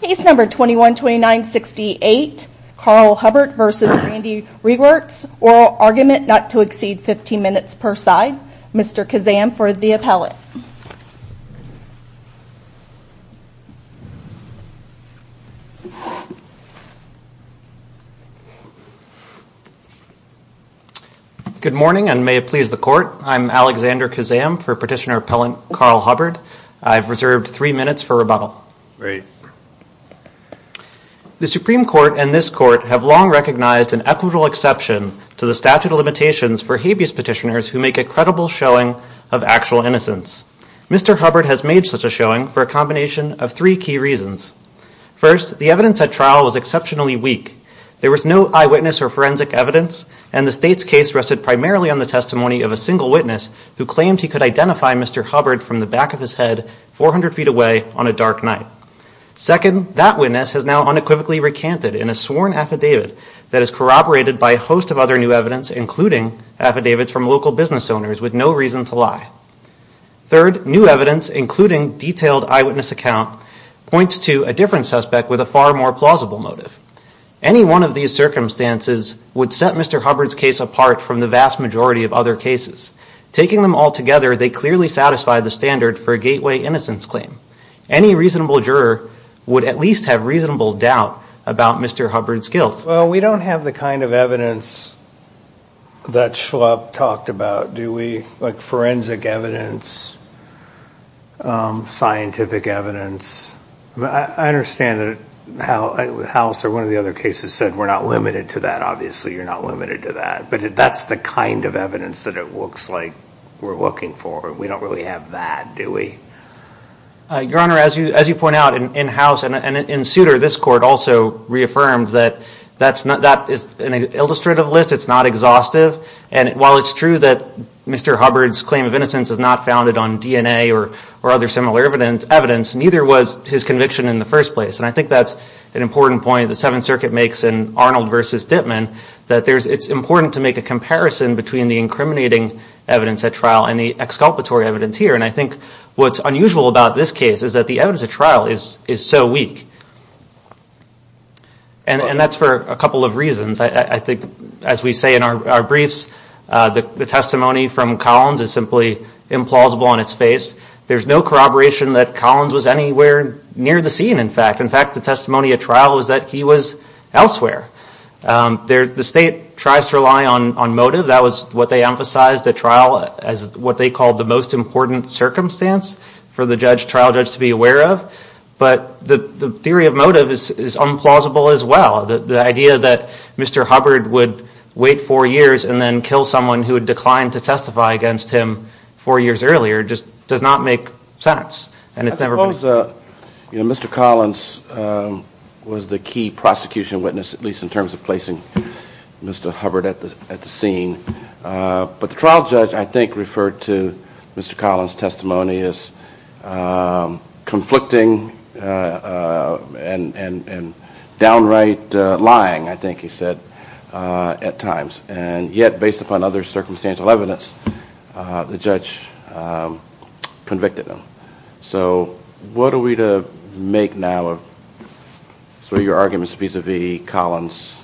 Case No. 21-2968, Carl Hubbard v. Randee Rewerts, oral argument not to exceed 15 minutes per side. Mr. Kazam for the appellant. Good morning and may it please the court. I'm Alexander Kazam for Petitioner Appellant Carl Hubbard. I've reserved three minutes for rebuttal. Great. The Supreme Court and this court have long recognized an equitable exception to the statute of limitations for habeas petitioners who make a credible showing of actual innocence. Mr. Hubbard has made such a showing for a combination of three key reasons. First, the evidence at trial was exceptionally weak. There was no eyewitness or forensic evidence and the state's case rested primarily on the testimony of a single witness who claimed he could identify Mr. Hubbard from the back of his head 400 feet away on a dark night. Second, that witness has now unequivocally recanted in a sworn affidavit that is corroborated by a host of other new evidence including affidavits from local business owners with no reason to lie. Third, new evidence including detailed eyewitness account points to a different suspect with a far more plausible motive. Any one of these circumstances would set Mr. Hubbard's case apart from the vast majority of other cases. Taking them all together, they clearly satisfy the standard for a gateway innocence claim. Any reasonable juror would at least have reasonable doubt about Mr. Hubbard's guilt. Well, we don't have the kind of evidence that Schlupp talked about, do we? Like forensic evidence, scientific evidence. I understand that House or one of the other cases said we're not limited to that. Obviously, you're not limited to that. But that's the kind of evidence that it looks like we're looking for. We don't really have that, do we? Your Honor, as you point out, in House and in Souter, this Court also reaffirmed that that is an illustrative list. It's not exhaustive. And while it's true that Mr. Hubbard's claim of innocence is not founded on DNA or other similar evidence, neither was his conviction in the first place. And I think that's an important point. The Seventh Circuit makes in Arnold v. Dittman that it's important to make a comparison between the incriminating evidence at trial and the exculpatory evidence here. And I think what's unusual about this case is that the evidence at trial is so weak. And that's for a couple of reasons. I think, as we say in our briefs, the testimony from Collins is simply implausible on its face. There's no corroboration that Collins was anywhere near the scene, in fact. In fact, the testimony at trial was that he was elsewhere. The State tries to rely on motive. That was what they emphasized at trial as what they called the most important circumstance for the trial judge to be aware of. But the theory of motive is implausible as well. The idea that Mr. Hubbard would wait four years and then kill someone who had declined to testify against him four years earlier just does not make sense. I suppose Mr. Collins was the key prosecution witness, at least in terms of placing Mr. Hubbard at the scene. But the trial judge, I think, referred to Mr. Collins' testimony as conflicting and downright lying, I think he said, at times. And yet, based upon other circumstantial evidence, the judge convicted him. So what are we to make now of your arguments vis-à-vis Collins'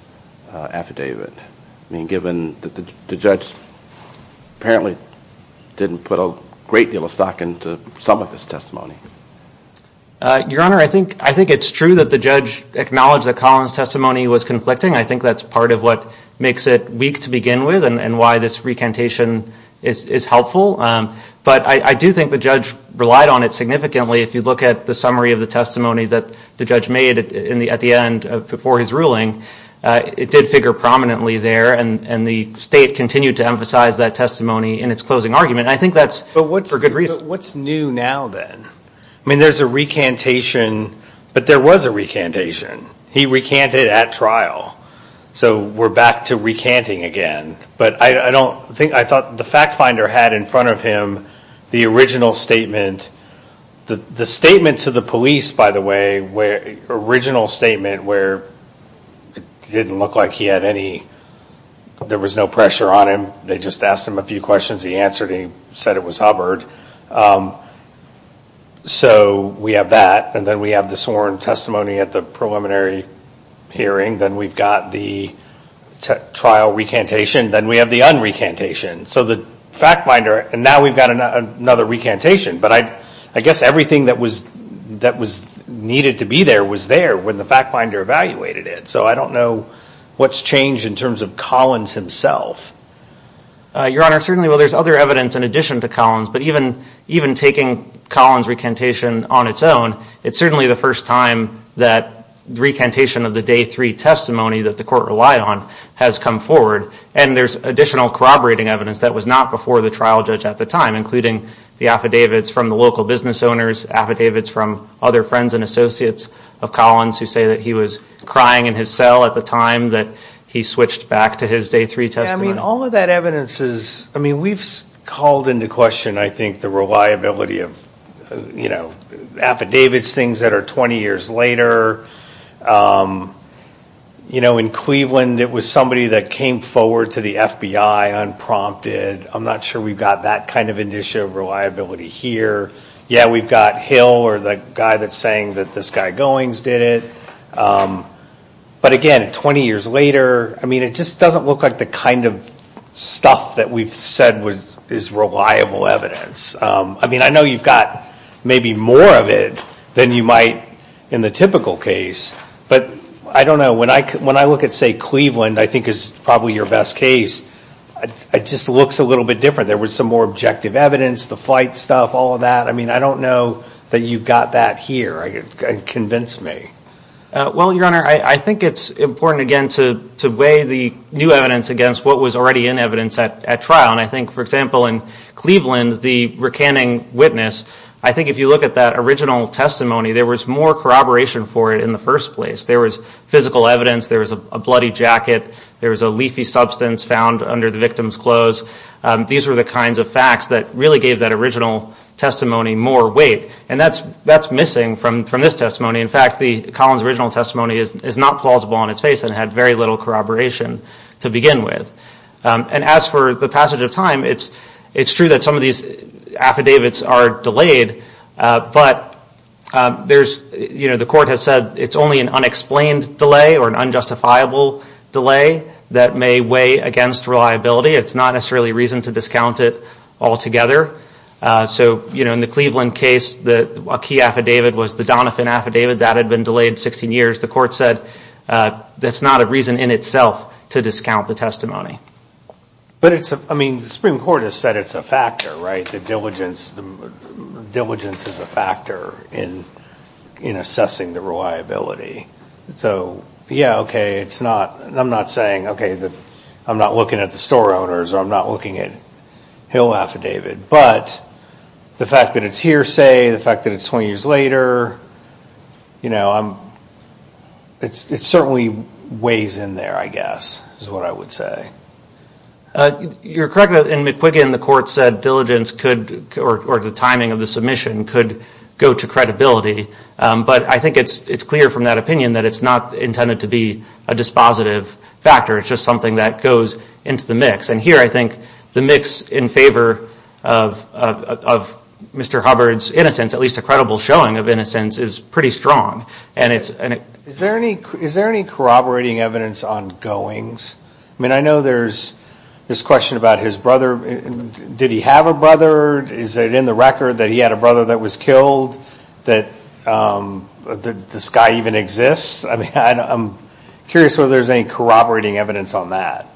affidavit? I mean, given that the judge apparently didn't put a great deal of stock into some of his testimony. Your Honor, I think it's true that the judge acknowledged that Collins' testimony was conflicting. I think that's part of what makes it weak to begin with and why this recantation is helpful. But I do think the judge relied on it significantly. If you look at the summary of the testimony that the judge made at the end before his ruling, it did figure prominently there. And the State continued to emphasize that testimony in its closing argument. I think that's for good reason. But what's new now, then? I mean, there's a recantation, but there was a recantation. He recanted at trial. So we're back to recanting again. But I thought the fact finder had in front of him the original statement. The statement to the police, by the way, the original statement where it didn't look like there was no pressure on him. They just asked him a few questions. He answered. He said it was Hubbard. So we have that. And then we have the sworn testimony at the preliminary hearing. Then we've got the trial recantation. Then we have the unrecantation. So the fact finder, and now we've got another recantation. But I guess everything that was needed to be there was there when the fact finder evaluated it. So I don't know what's changed in terms of Collins himself. Your Honor, certainly there's other evidence in addition to Collins, but even taking Collins' recantation on its own, it's certainly the first time that the recantation of the day three testimony that the court relied on has come forward. And there's additional corroborating evidence that was not before the trial judge at the time, including the affidavits from the local business owners, affidavits from other friends and associates of Collins who say that he was crying in his cell at the time that he switched back to his day three testimony. Yeah, I mean, all of that evidence is, I mean, we've called into question, I think, the reliability of, you know, affidavits, things that are 20 years later. You know, in Cleveland it was somebody that came forward to the FBI unprompted. I'm not sure we've got that kind of indicia of reliability here. Yeah, we've got Hill or the guy that's saying that this guy Goings did it. But again, 20 years later, I mean, it just doesn't look like the kind of stuff that we've said is reliable evidence. I mean, I know you've got maybe more of it than you might in the typical case, but I don't know, when I look at, say, Cleveland, I think is probably your best case, it just looks a little bit different. There was some more objective evidence, the flight stuff, all of that. I mean, I don't know that you've got that here. Well, Your Honor, I think it's important, again, to weigh the new evidence against what was already in evidence at trial. And I think, for example, in Cleveland, the recanning witness, I think if you look at that original testimony, there was more corroboration for it in the first place. There was physical evidence, there was a bloody jacket, there was a leafy substance found under the victim's clothes. These were the kinds of facts that really gave that original testimony more weight. And that's missing from this testimony. In fact, Colin's original testimony is not plausible on its face and had very little corroboration to begin with. And as for the passage of time, it's true that some of these affidavits are delayed, but the court has said it's only an unexplained delay or an unjustifiable delay that may weigh against reliability. It's not necessarily a reason to discount it altogether. So, you know, in the Cleveland case, a key affidavit was the Donovan affidavit. That had been delayed 16 years. The court said that's not a reason in itself to discount the testimony. But it's, I mean, the Supreme Court has said it's a factor, right? The diligence is a factor in assessing the reliability. So, yeah, okay, it's not, I'm not saying, okay, I'm not looking at the store owners or I'm not looking at Hill affidavit. But the fact that it's hearsay, the fact that it's 20 years later, you know, it certainly weighs in there, I guess, is what I would say. You're correct in McQuiggin, the court said diligence could, or the timing of the submission could go to credibility. But I think it's clear from that opinion that it's not intended to be a dispositive factor. It's just something that goes into the mix. And here I think the mix in favor of Mr. Hubbard's innocence, at least a credible showing of innocence, is pretty strong. Is there any corroborating evidence on goings? I mean, I know there's this question about his brother. Did he have a brother? Is it in the record that he had a brother that was killed, that this guy even exists? I mean, I'm curious whether there's any corroborating evidence on that.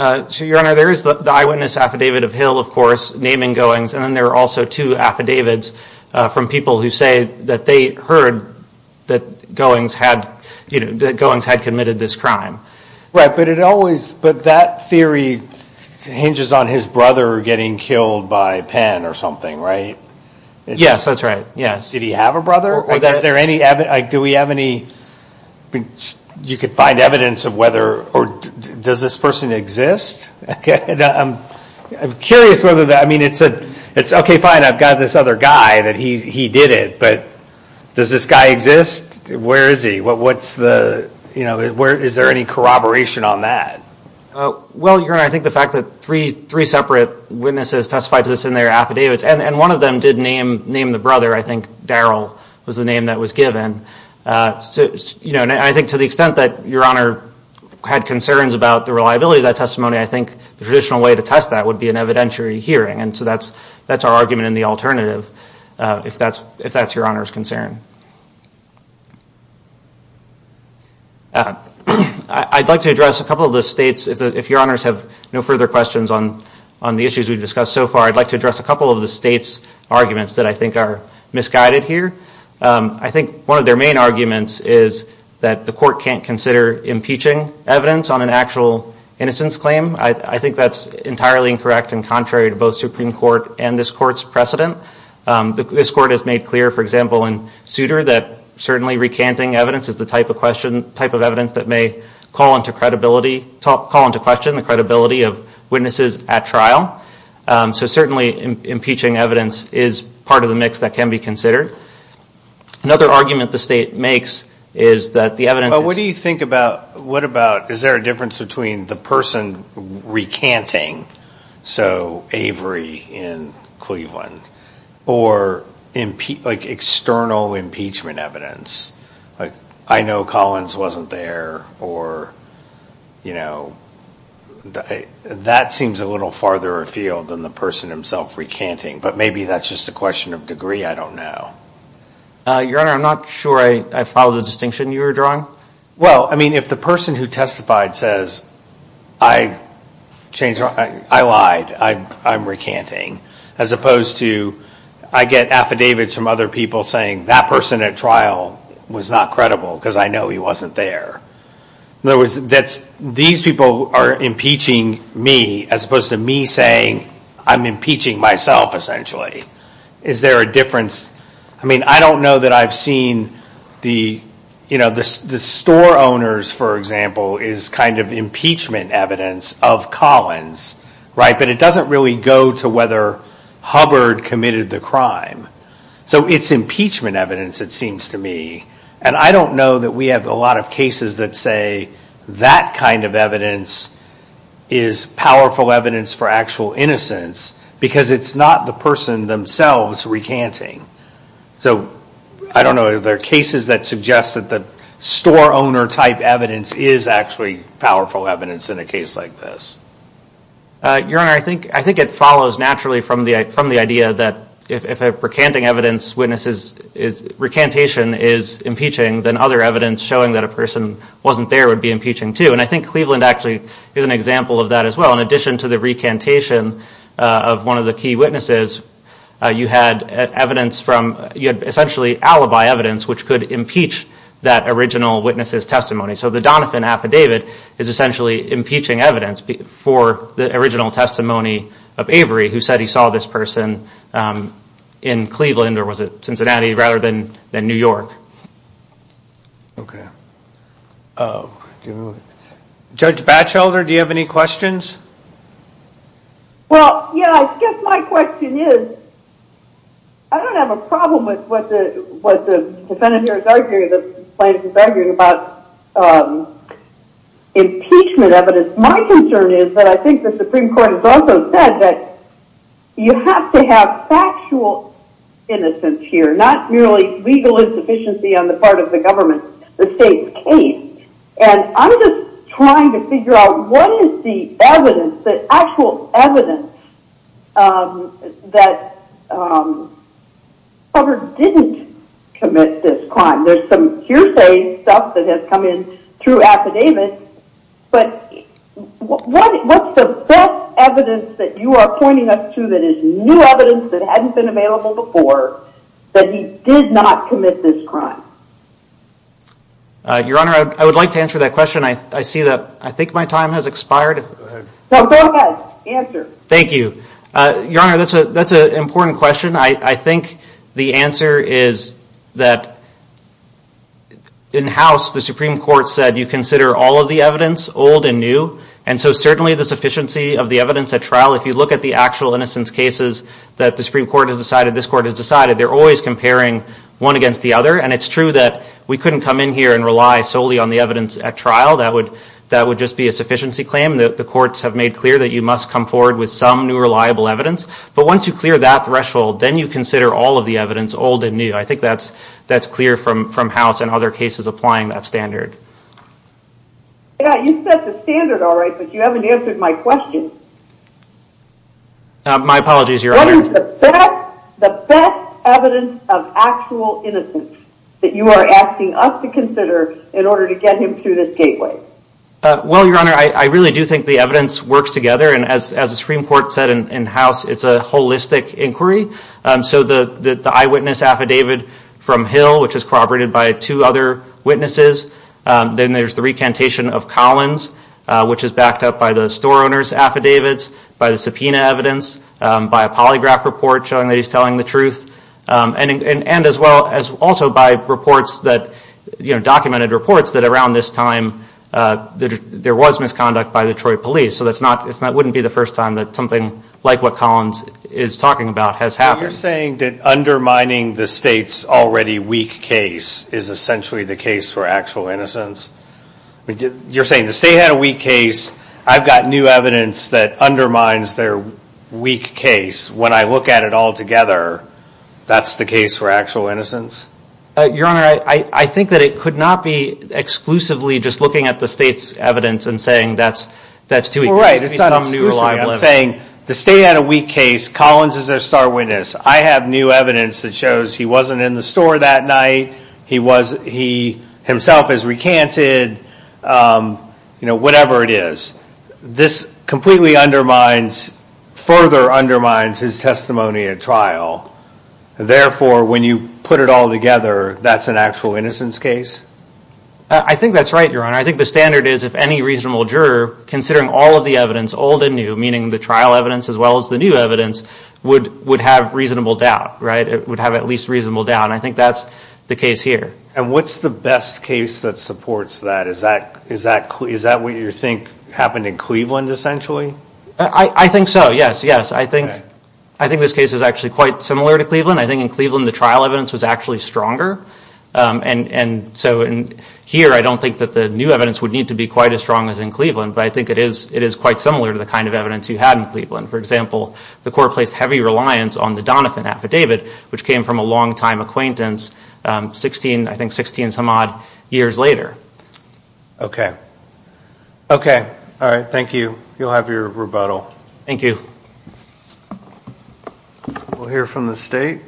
Your Honor, there is the eyewitness affidavit of Hill, of course, naming goings. And then there are also two affidavits from people who say that they heard that goings had committed this crime. Right, but that theory hinges on his brother getting killed by Penn or something, right? Yes, that's right, yes. Did he have a brother? Do we have any – you could find evidence of whether – or does this person exist? I'm curious whether – I mean, it's okay, fine, I've got this other guy that he did it. But does this guy exist? Where is he? What's the – is there any corroboration on that? Well, Your Honor, I think the fact that three separate witnesses testified to this in their affidavits, and one of them did name the brother, I think Darrell was the name that was given. I think to the extent that Your Honor had concerns about the reliability of that testimony, I think the traditional way to test that would be an evidentiary hearing. And so that's our argument in the alternative, if that's Your Honor's concern. I'd like to address a couple of the states. If Your Honors have no further questions on the issues we've discussed so far, I'd like to address a couple of the states' arguments that I think are misguided here. I think one of their main arguments is that the court can't consider impeaching evidence on an actual innocence claim. I think that's entirely incorrect and contrary to both Supreme Court and this Court's precedent. This Court has made clear, for example, in Souter, that certainly recanting evidence is the type of evidence that may call into question the credibility of witnesses at trial. So certainly impeaching evidence is part of the mix that can be considered. Another argument the state makes is that the evidence is... But what do you think about, what about, is there a difference between the person recanting, so Avery in Cleveland, or external impeachment evidence? I know Collins wasn't there, or, you know, that seems a little farther afield than the person himself recanting. But maybe that's just a question of degree, I don't know. Your Honor, I'm not sure I follow the distinction you were drawing. Well, I mean, if the person who testified says, I lied, I'm recanting, as opposed to, I get affidavits from other people saying, that person at trial was not credible because I know he wasn't there. In other words, these people are impeaching me, as opposed to me saying I'm impeaching myself, essentially. Is there a difference? I mean, I don't know that I've seen the, you know, the store owners, for example, is kind of impeachment evidence of Collins, right? But it doesn't really go to whether Hubbard committed the crime. So it's impeachment evidence, it seems to me. And I don't know that we have a lot of cases that say, that kind of evidence is powerful evidence for actual innocence, because it's not the person themselves recanting. So I don't know, are there cases that suggest that the store owner type evidence is actually powerful evidence in a case like this? Your Honor, I think it follows naturally from the idea that if a recanting evidence witness is, recantation is impeaching, then other evidence showing that a person wasn't there would be impeaching too. And I think Cleveland actually is an example of that as well. In addition to the recantation of one of the key witnesses, you had evidence from, you had essentially alibi evidence, which could impeach that original witness's testimony. So the Donovan affidavit is essentially impeaching evidence for the original testimony of Avery, who said he saw this person in Cleveland, or was it Cincinnati, rather than New York. Okay. Judge Batchelder, do you have any questions? Well, yeah, I guess my question is, I don't have a problem with what the plaintiff is arguing about impeachment evidence. My concern is that I think the Supreme Court has also said that you have to have factual innocence here, not merely legal insufficiency on the part of the government, the state's case. And I'm just trying to figure out what is the evidence, the actual evidence, that Hoover didn't commit this crime. There's some hearsay stuff that has come in through affidavit, but what's the best evidence that you are pointing us to that is new evidence that hadn't been available before, that he did not commit this crime? Your Honor, I would like to answer that question. I see that I think my time has expired. Go ahead. No, go ahead. Answer. Thank you. Your Honor, that's an important question. I think the answer is that in-house, the Supreme Court said you consider all of the evidence old and new, and so certainly the sufficiency of the evidence at trial, if you look at the actual innocence cases that the Supreme Court has decided, this Court has decided, they're always comparing one against the other. And it's true that we couldn't come in here and rely solely on the evidence at trial. That would just be a sufficiency claim. The courts have made clear that you must come forward with some new reliable evidence. But once you clear that threshold, then you consider all of the evidence old and new. I think that's clear from house and other cases applying that standard. You set the standard all right, but you haven't answered my question. My apologies, Your Honor. What is the best evidence of actual innocence that you are asking us to consider in order to get him through this gateway? Well, Your Honor, I really do think the evidence works together. And as the Supreme Court said in-house, it's a holistic inquiry. So the eyewitness affidavit from Hill, which is corroborated by two other witnesses, then there's the recantation of Collins, which is backed up by the store owner's affidavits, by the subpoena evidence, by a polygraph report showing that he's telling the truth, and as well as also by reports that, you know, documented reports that around this time there was misconduct by the Troy police. So that wouldn't be the first time that something like what Collins is talking about has happened. Are you saying that undermining the state's already weak case is essentially the case for actual innocence? You're saying the state had a weak case. I've got new evidence that undermines their weak case. When I look at it all together, that's the case for actual innocence? Your Honor, I think that it could not be exclusively just looking at the state's evidence and saying that's too weak. Well, right, it's not exclusively. I'm saying the state had a weak case. Collins is their star witness. I have new evidence that shows he wasn't in the store that night. He himself has recanted, you know, whatever it is. This completely undermines, further undermines his testimony at trial. Therefore, when you put it all together, that's an actual innocence case? I think that's right, Your Honor. I think the standard is if any reasonable juror, considering all of the evidence, old and new, meaning the trial evidence as well as the new evidence, would have reasonable doubt, right? It would have at least reasonable doubt. And I think that's the case here. And what's the best case that supports that? Is that what you think happened in Cleveland, essentially? I think so, yes, yes. I think this case is actually quite similar to Cleveland. I think in Cleveland the trial evidence was actually stronger. And so here I don't think that the new evidence would need to be quite as strong as in Cleveland, but I think it is quite similar to the kind of evidence you had in Cleveland. For example, the court placed heavy reliance on the Donovan affidavit, which came from a longtime acquaintance, I think 16 some odd years later. Okay. Okay. All right. Thank you. You'll have your rebuttal. Thank you. We'll hear from the State.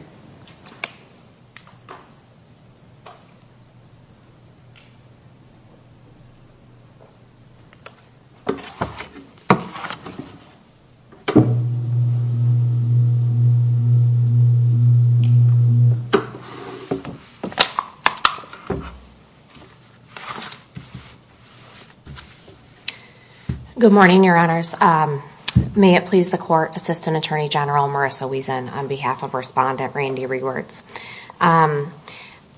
Good morning, Your Honors. May it please the Court, Assistant Attorney General Marissa Wiesen on behalf of Respondent Randy Rewards. I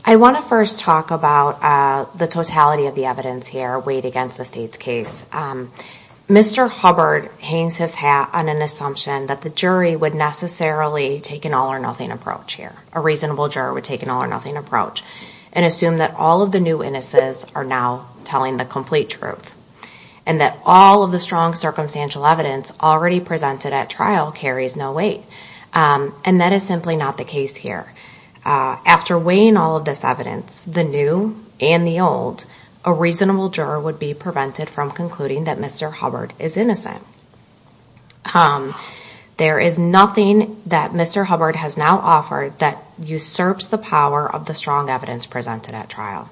want to first talk about the totality of the evidence here weighed against the State's case. Mr. Hubbard hangs his hat on an assumption that the jury would necessarily take an all-or-nothing approach here. A reasonable juror would take an all-or-nothing approach and assume that all of the new witnesses are now telling the complete truth and that all of the strong circumstantial evidence already presented at trial carries no weight. And that is simply not the case here. After weighing all of this evidence, the new and the old, a reasonable juror would be prevented from concluding that Mr. Hubbard is innocent. There is nothing that Mr. Hubbard has now offered that usurps the power of the strong evidence presented at trial.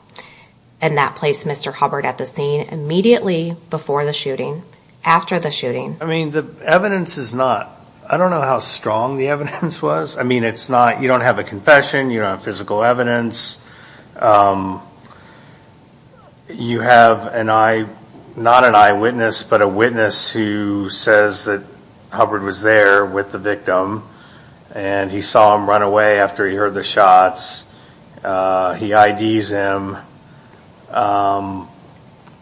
And that placed Mr. Hubbard at the scene immediately before the shooting, after the shooting. I mean, the evidence is not, I don't know how strong the evidence was. I mean, it's not, you don't have a confession, you don't have physical evidence. You have an eye, not an eyewitness, but a witness who says that Hubbard was there with the victim and he saw him run away after he heard the shots. He IDs him.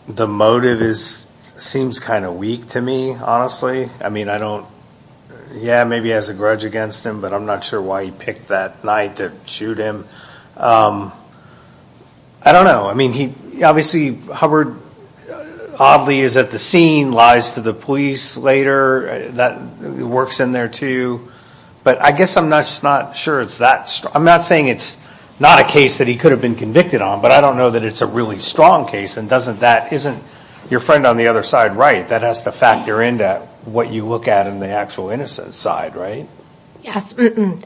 The motive is, seems kind of weak to me, honestly. I mean, I don't, yeah, maybe he has a grudge against him, but I'm not sure why he picked that night to shoot him. But I don't know. I mean, he, obviously Hubbard oddly is at the scene, lies to the police later. That works in there too. But I guess I'm just not sure it's that, I'm not saying it's not a case that he could have been convicted on, but I don't know that it's a really strong case. And doesn't that, isn't your friend on the other side right? That has to factor into what you look at in the actual innocence side, right? Yes,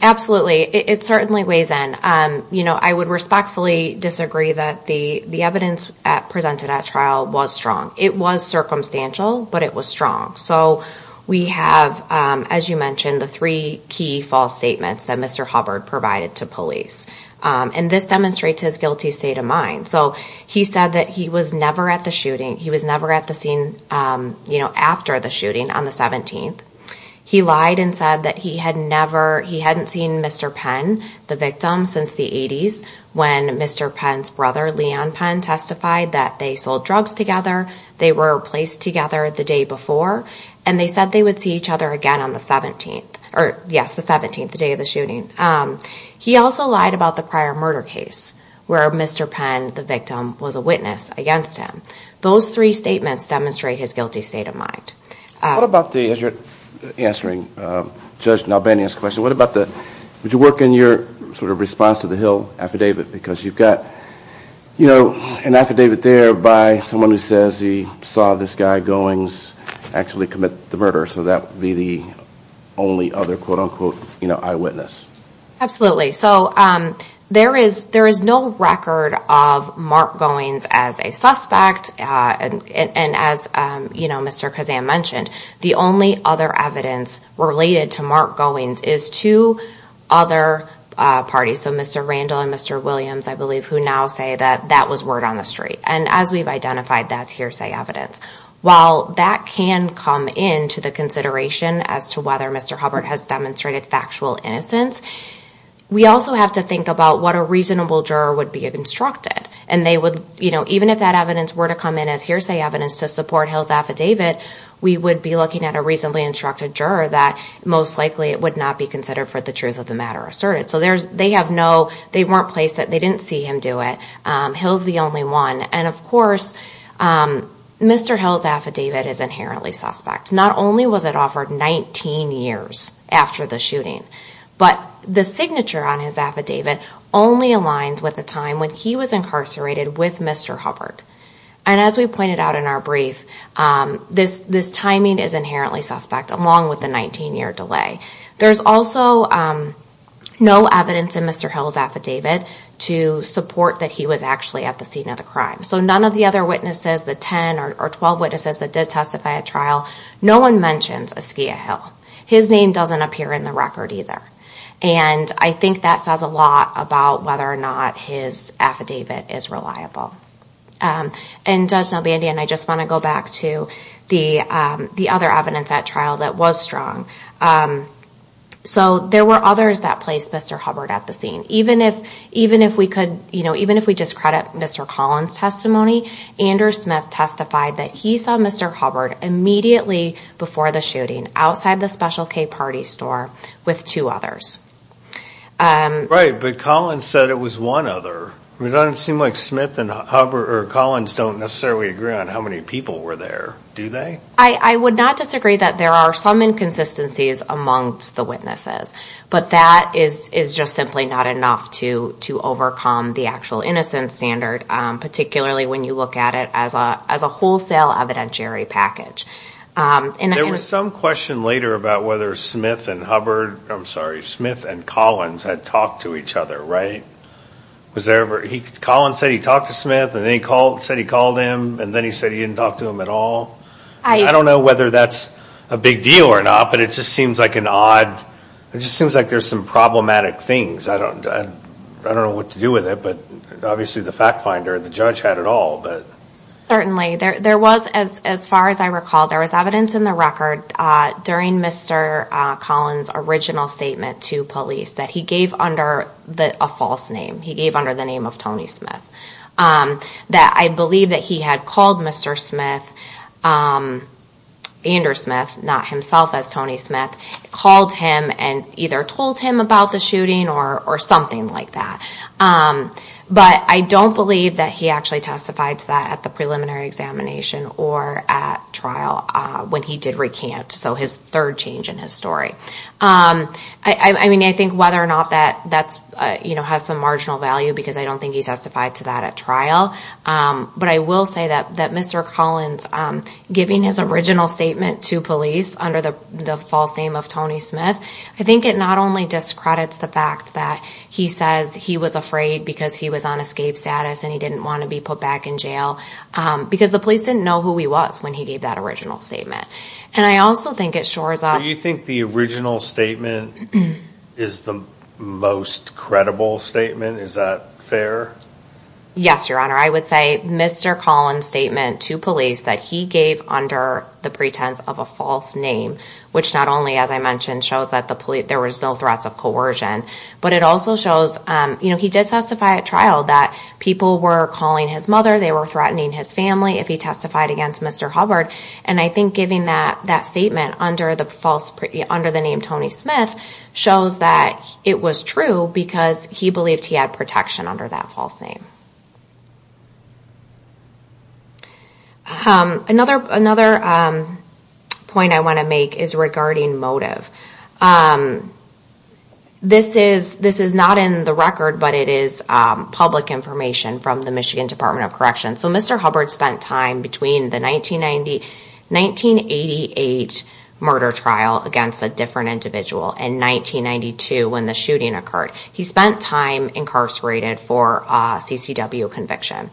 absolutely. It certainly weighs in. I would respectfully disagree that the evidence presented at trial was strong. It was circumstantial, but it was strong. So we have, as you mentioned, the three key false statements that Mr. Hubbard provided to police. And this demonstrates his guilty state of mind. So he said that he was never at the shooting. He was never at the scene after the shooting on the 17th. He lied and said that he had never, he hadn't seen Mr. Penn, the victim, since the 80s, when Mr. Penn's brother, Leon Penn, testified that they sold drugs together, they were placed together the day before, and they said they would see each other again on the 17th. Or, yes, the 17th, the day of the shooting. He also lied about the prior murder case, where Mr. Penn, the victim, was a witness against him. Those three statements demonstrate his guilty state of mind. What about the, as you're answering Judge Nalbany's question, what about the, would you work in your sort of response to the Hill affidavit? Because you've got, you know, an affidavit there by someone who says he saw this guy, Goings, actually commit the murder. So that would be the only other, quote, unquote, you know, eyewitness. Absolutely. So there is no record of Mark Goings as a suspect, and as, you know, Mr. Kazan mentioned, the only other evidence related to Mark Goings is two other parties, so Mr. Randall and Mr. Williams, I believe, who now say that that was word on the street. And as we've identified, that's hearsay evidence. While that can come into the consideration as to whether Mr. Hubbard has demonstrated factual innocence, we also have to think about what a reasonable juror would be instructed. And they would, you know, even if that evidence were to come in as hearsay evidence to support Hill's affidavit, we would be looking at a reasonably instructed juror that most likely it would not be considered for the truth of the matter asserted. So there's, they have no, they weren't placed, they didn't see him do it. Hill's the only one. And, of course, Mr. Hill's affidavit is inherently suspect. Not only was it offered 19 years after the shooting, but the signature on his affidavit only aligns with the time when he was incarcerated with Mr. Hubbard. And as we pointed out in our brief, this timing is inherently suspect, along with the 19-year delay. There's also no evidence in Mr. Hill's affidavit to support that he was actually at the scene of the crime. So none of the other witnesses, the 10 or 12 witnesses that did testify at trial, no one mentions Askiah Hill. His name doesn't appear in the record either. And I think that says a lot about whether or not his affidavit is reliable. And Judge Nobandy, and I just want to go back to the other evidence at trial that was strong. So there were others that placed Mr. Hubbard at the scene. Even if we discredit Mr. Collins' testimony, Andrew Smith testified that he saw Mr. Hubbard immediately before the shooting, outside the Special K party store, with two others. Right, but Collins said it was one other. It doesn't seem like Collins and Smith don't necessarily agree on how many people were there. Do they? I would not disagree that there are some inconsistencies amongst the witnesses. But that is just simply not enough to overcome the actual innocence standard, particularly when you look at it as a wholesale evidentiary package. There was some question later about whether Smith and Hubbard, I'm sorry, Smith and Collins had talked to each other, right? Collins said he talked to Smith, and then he said he called him, and then he said he didn't talk to him at all. I don't know whether that's a big deal or not, but it just seems like an odd, it just seems like there's some problematic things. I don't know what to do with it, but obviously the fact finder, the judge had it all. Certainly. There was, as far as I recall, there was evidence in the record during Mr. Collins' original statement to police that he gave under a false name. He gave under the name of Tony Smith. That I believe that he had called Mr. Smith, Andrew Smith, not himself as Tony Smith, called him and either told him about the shooting or something like that. But I don't believe that he actually testified to that at the preliminary examination or at trial when he did recant. So his third change in his story. I mean, I think whether or not that has some marginal value, because I don't think he testified to that at trial. But I will say that Mr. Collins giving his original statement to police under the false name of Tony Smith, I think it not only discredits the fact that he says he was afraid because he was on escape status and he didn't want to be put back in jail, because the police didn't know who he was when he gave that original statement. And I also think it shores up. Do you think the original statement is the most credible statement? Is that fair? Yes, Your Honor. I would say Mr. Collins' statement to police that he gave under the pretense of a false name, which not only, as I mentioned, shows that there was no threats of coercion, but it also shows he did testify at trial that people were calling his mother, they were threatening his family if he testified against Mr. Hubbard. And I think giving that statement under the name Tony Smith shows that it was true because he believed he had protection under that false name. Another point I want to make is regarding motive. This is not in the record, but it is public information from the Michigan Department of Corrections. So Mr. Hubbard spent time between the 1988 murder trial against a different individual and 1992 when the shooting occurred. He spent time incarcerated for CCW conviction.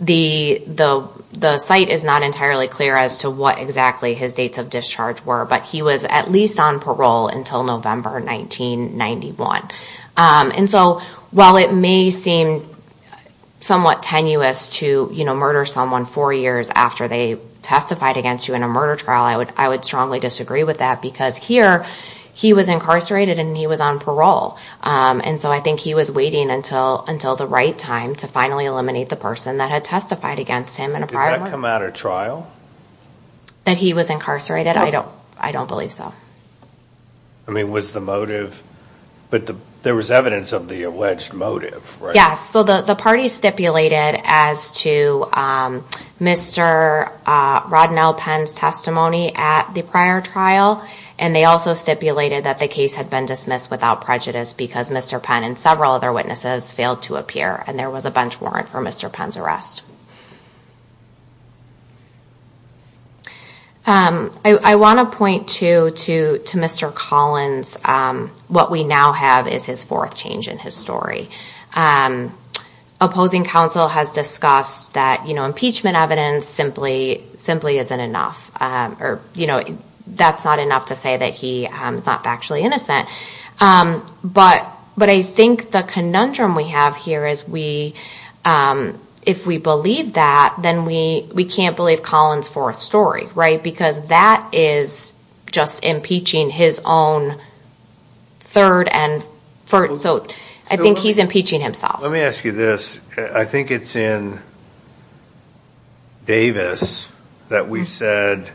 The site is not entirely clear as to what exactly his dates of discharge were, but he was at least on parole until November 1991. And so while it may seem somewhat tenuous to murder someone four years after they testified against you in a murder trial, I would strongly disagree with that because here he was incarcerated and he was on parole. And so I think he was waiting until the right time to finally eliminate the person that had testified against him in a prior murder trial. Did that come out at trial? That he was incarcerated? I don't believe so. I mean, was the motive, but there was evidence of the alleged motive, right? Yes, so the party stipulated as to Mr. Rodnell Penn's testimony at the prior trial, and they also stipulated that the case had been dismissed without prejudice because Mr. Penn and several other witnesses failed to appear and there was a bench warrant for Mr. Penn's arrest. I want to point to Mr. Collins, what we now have is his fourth change in his story. Opposing counsel has discussed that impeachment evidence simply isn't enough, or that's not enough to say that he's not factually innocent. But I think the conundrum we have here is if we believe that Mr. Collins can't believe that, then we can't believe Collins' fourth story, right? Because that is just impeaching his own third, and so I think he's impeaching himself. Let me ask you this. I think it's in Davis that we said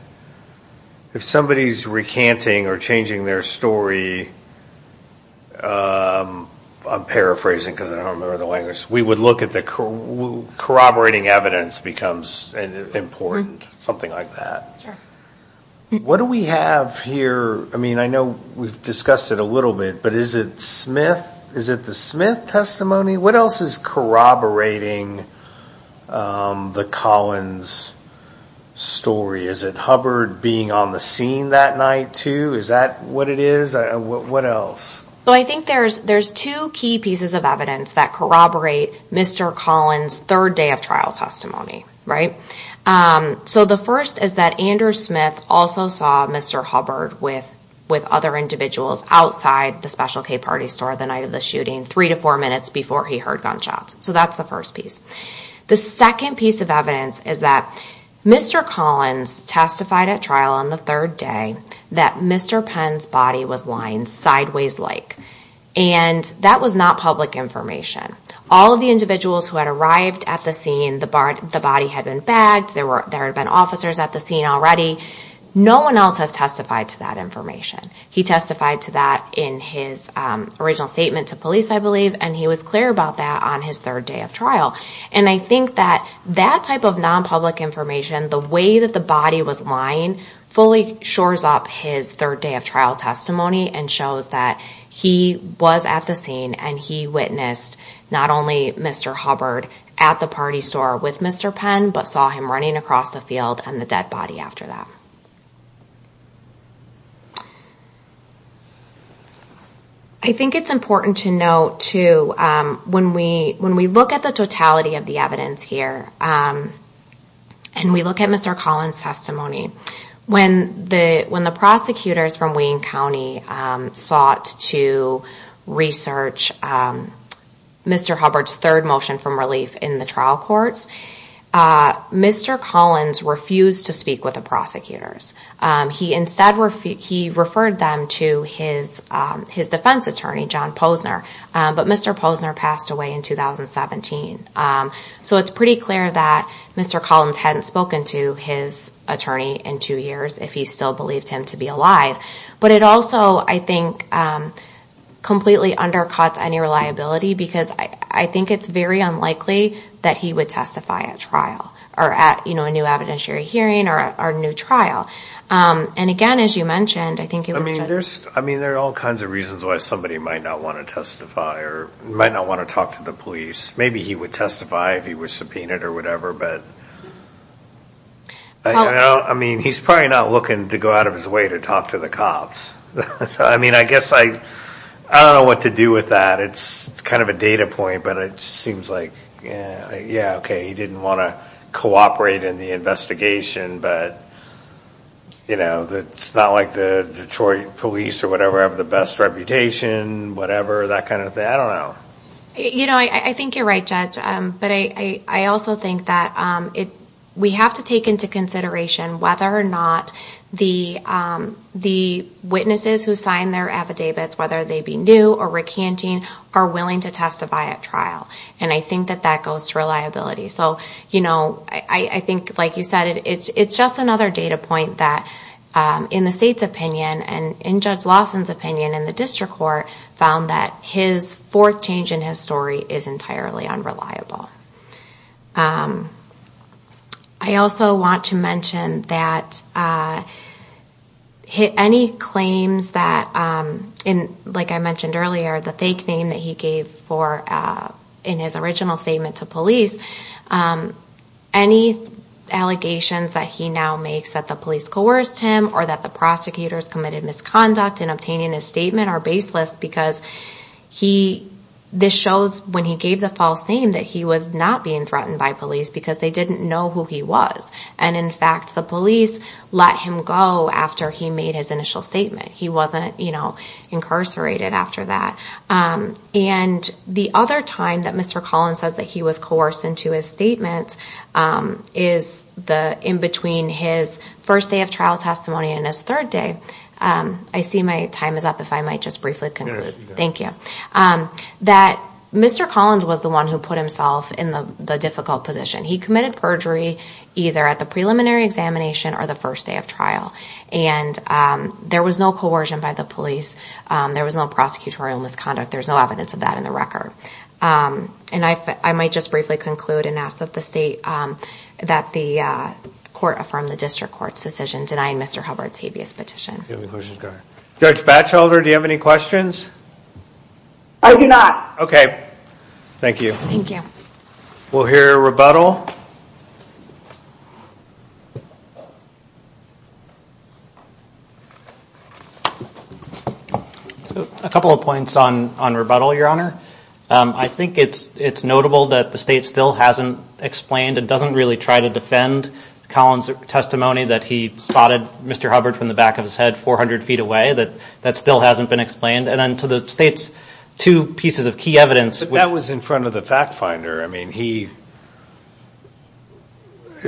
if somebody's recanting or changing their story, I'm paraphrasing because I don't remember the language, we would look at corroborating evidence becomes important, something like that. Sure. What do we have here? I mean, I know we've discussed it a little bit, but is it the Smith testimony? What else is corroborating the Collins story? Is it Hubbard being on the scene that night too? Is that what it is? What else? Well, I think there's two key pieces of evidence that corroborate Mr. Collins' third day of trial testimony, right? So the first is that Andrew Smith also saw Mr. Hubbard with other individuals outside the Special K party store the night of the shooting, three to four minutes before he heard gunshots. So that's the first piece. The second piece of evidence is that Mr. Collins testified at trial on the third day that Mr. Penn's body was lying sideways-like, and that was not public information. All of the individuals who had arrived at the scene, the body had been bagged, there had been officers at the scene already. No one else has testified to that information. He testified to that in his original statement to police, I believe, and he was clear about that on his third day of trial. And I think that that type of non-public information, the way that the body was lying fully shores up his third day of trial testimony and shows that he was at the scene and he witnessed not only Mr. Hubbard at the party store with Mr. Penn but saw him running across the field and the dead body after that. I think it's important to note, too, when we look at the totality of the evidence here and we look at Mr. Collins' testimony, when the prosecutors from Wayne County sought to research Mr. Hubbard's third motion from relief in the trial courts, Mr. Collins refused to speak with the prosecutors. He instead referred them to his defense attorney, John Posner, but Mr. Posner passed away in 2017. So it's pretty clear that Mr. Collins hadn't spoken to his attorney in two years if he still believed him to be alive. But it also, I think, completely undercuts any reliability because I think it's very unlikely that he would testify at trial or at a new evidentiary hearing or a new trial. And, again, as you mentioned, I think it was just... I mean, there are all kinds of reasons why somebody might not want to testify or might not want to talk to the police. Maybe he would testify if he was subpoenaed or whatever, but... I mean, he's probably not looking to go out of his way to talk to the cops. I mean, I guess I don't know what to do with that. It's kind of a data point, but it seems like, yeah, okay, he didn't want to cooperate in the investigation, but it's not like the Detroit police or whatever have the best reputation, whatever, that kind of thing. I don't know. You know, I think you're right, Judge, but I also think that we have to take into consideration whether or not the witnesses who signed their affidavits, whether they be new or recanting, are willing to testify at trial. And I think that that goes to reliability. So, you know, I think, like you said, it's just another data point that, in the state's opinion and in Judge Lawson's opinion in the district court, found that his fourth change in his story is entirely unreliable. I also want to mention that any claims that, like I mentioned earlier, the fake name that he gave in his original statement to police, any allegations that he now makes that the police coerced him or that the prosecutors committed misconduct in obtaining his statement are baseless because this shows, when he gave the false name, that he was not being threatened by police because they didn't know who he was. And, in fact, the police let him go after he made his initial statement. He wasn't incarcerated after that. And the other time that Mr. Collin says that he was coerced into his statement is in between his first day of trial testimony and his third day. I see my time is up. If I might just briefly conclude. Yes, you may. Thank you. That Mr. Collins was the one who put himself in the difficult position. He committed perjury either at the preliminary examination or the first day of trial. And there was no coercion by the police. There was no prosecutorial misconduct. There's no evidence of that in the record. And I might just briefly conclude and ask that the state, Judge Batchelder, do you have any questions? I do not. Okay. Thank you. Thank you. We'll hear rebuttal. A couple of points on rebuttal, Your Honor. I think it's notable that the state still hasn't explained and doesn't really try to defend Collins' testimony that he spotted Mr. Hubbard from the back of his head 400 feet away. That still hasn't been explained. And then to the state's two pieces of key evidence. That was in front of the fact finder. I mean, he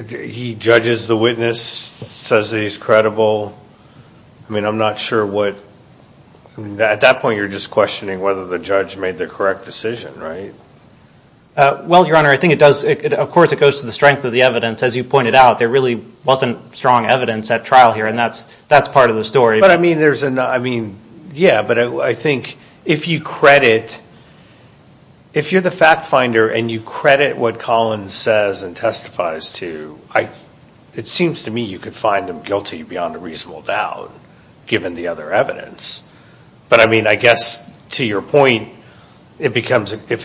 judges the witness, says he's credible. I mean, I'm not sure what. At that point, you're just questioning whether the judge made the correct decision, right? Well, Your Honor, I think it does. Of course, it goes to the strength of the evidence. As you pointed out, there really wasn't strong evidence at trial here, and that's part of the story. But, I mean, yeah, but I think if you credit, if you're the fact finder and you credit what Collins says and testifies to, it seems to me you could find him guilty beyond a reasonable doubt, given the other evidence. But, I mean, I guess to your point, if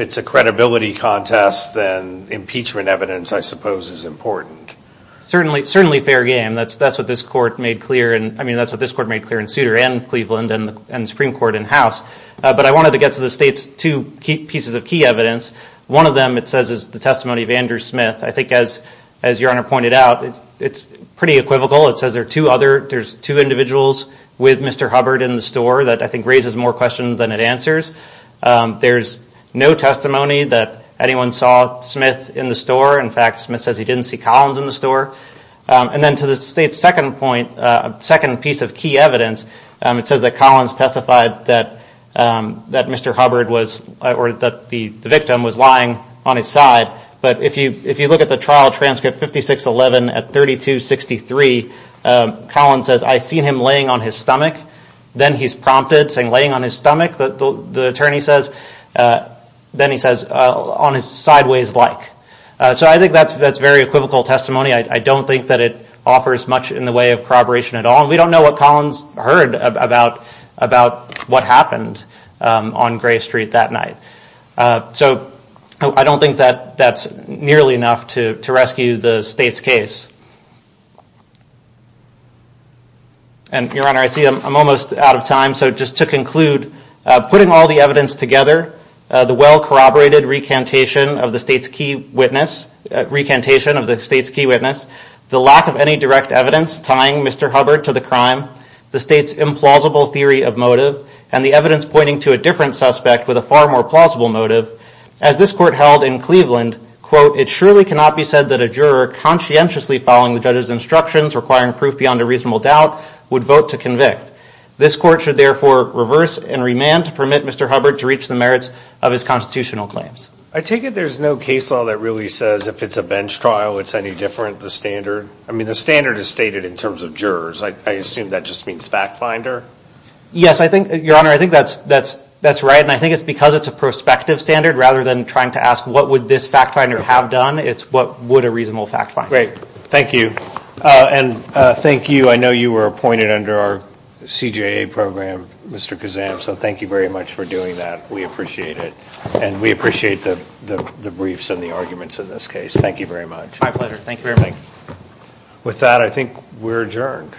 it's a credibility contest, then impeachment evidence, I suppose, is important. Certainly fair game. That's what this court made clear in Souter and Cleveland and the Supreme Court in-house. But I wanted to get to the state's two pieces of key evidence. One of them, it says, is the testimony of Andrew Smith. I think, as Your Honor pointed out, it's pretty equivocal. It says there's two individuals with Mr. Hubbard in the store that I think raises more questions than it answers. There's no testimony that anyone saw Smith in the store. In fact, Smith says he didn't see Collins in the store. And then to the state's second point, second piece of key evidence, it says that Collins testified that Mr. Hubbard was, or that the victim was lying on his side. But if you look at the trial transcript 5611 at 3263, Collins says, I seen him laying on his stomach. Then he's prompted, saying laying on his stomach, the attorney says. Then he says, on his sideways like. So I think that's very equivocal testimony. I don't think that it offers much in the way of corroboration at all. We don't know what Collins heard about what happened on Gray Street that night. So I don't think that that's nearly enough to rescue the state's case. And Your Honor, I see I'm almost out of time. So just to conclude, putting all the evidence together, the well corroborated recantation of the state's key witness, recantation of the state's key witness, the lack of any direct evidence tying Mr. Hubbard to the crime, the state's implausible theory of motive, and the evidence pointing to a different suspect with a far more plausible motive, as this court held in Cleveland, quote, it surely cannot be said that a juror conscientiously following the judge's instructions, requiring proof beyond a reasonable doubt, would vote to convict. This court should therefore reverse and remand to permit Mr. Hubbard to reach the merits of his constitutional claims. I take it there's no case law that really says if it's a bench trial, it's any different, the standard. I mean, the standard is stated in terms of jurors. I assume that just means fact finder. Yes, Your Honor, I think that's right. And I think it's because it's a prospective standard, rather than trying to ask what would this fact finder have done, it's what would a reasonable fact finder. Great. Thank you. And thank you. I know you were appointed under our CJA program, Mr. Kazam, so thank you very much for doing that. We appreciate it. And we appreciate the briefs and the arguments in this case. Thank you very much. My pleasure. Thank you very much. With that, I think we're adjourned.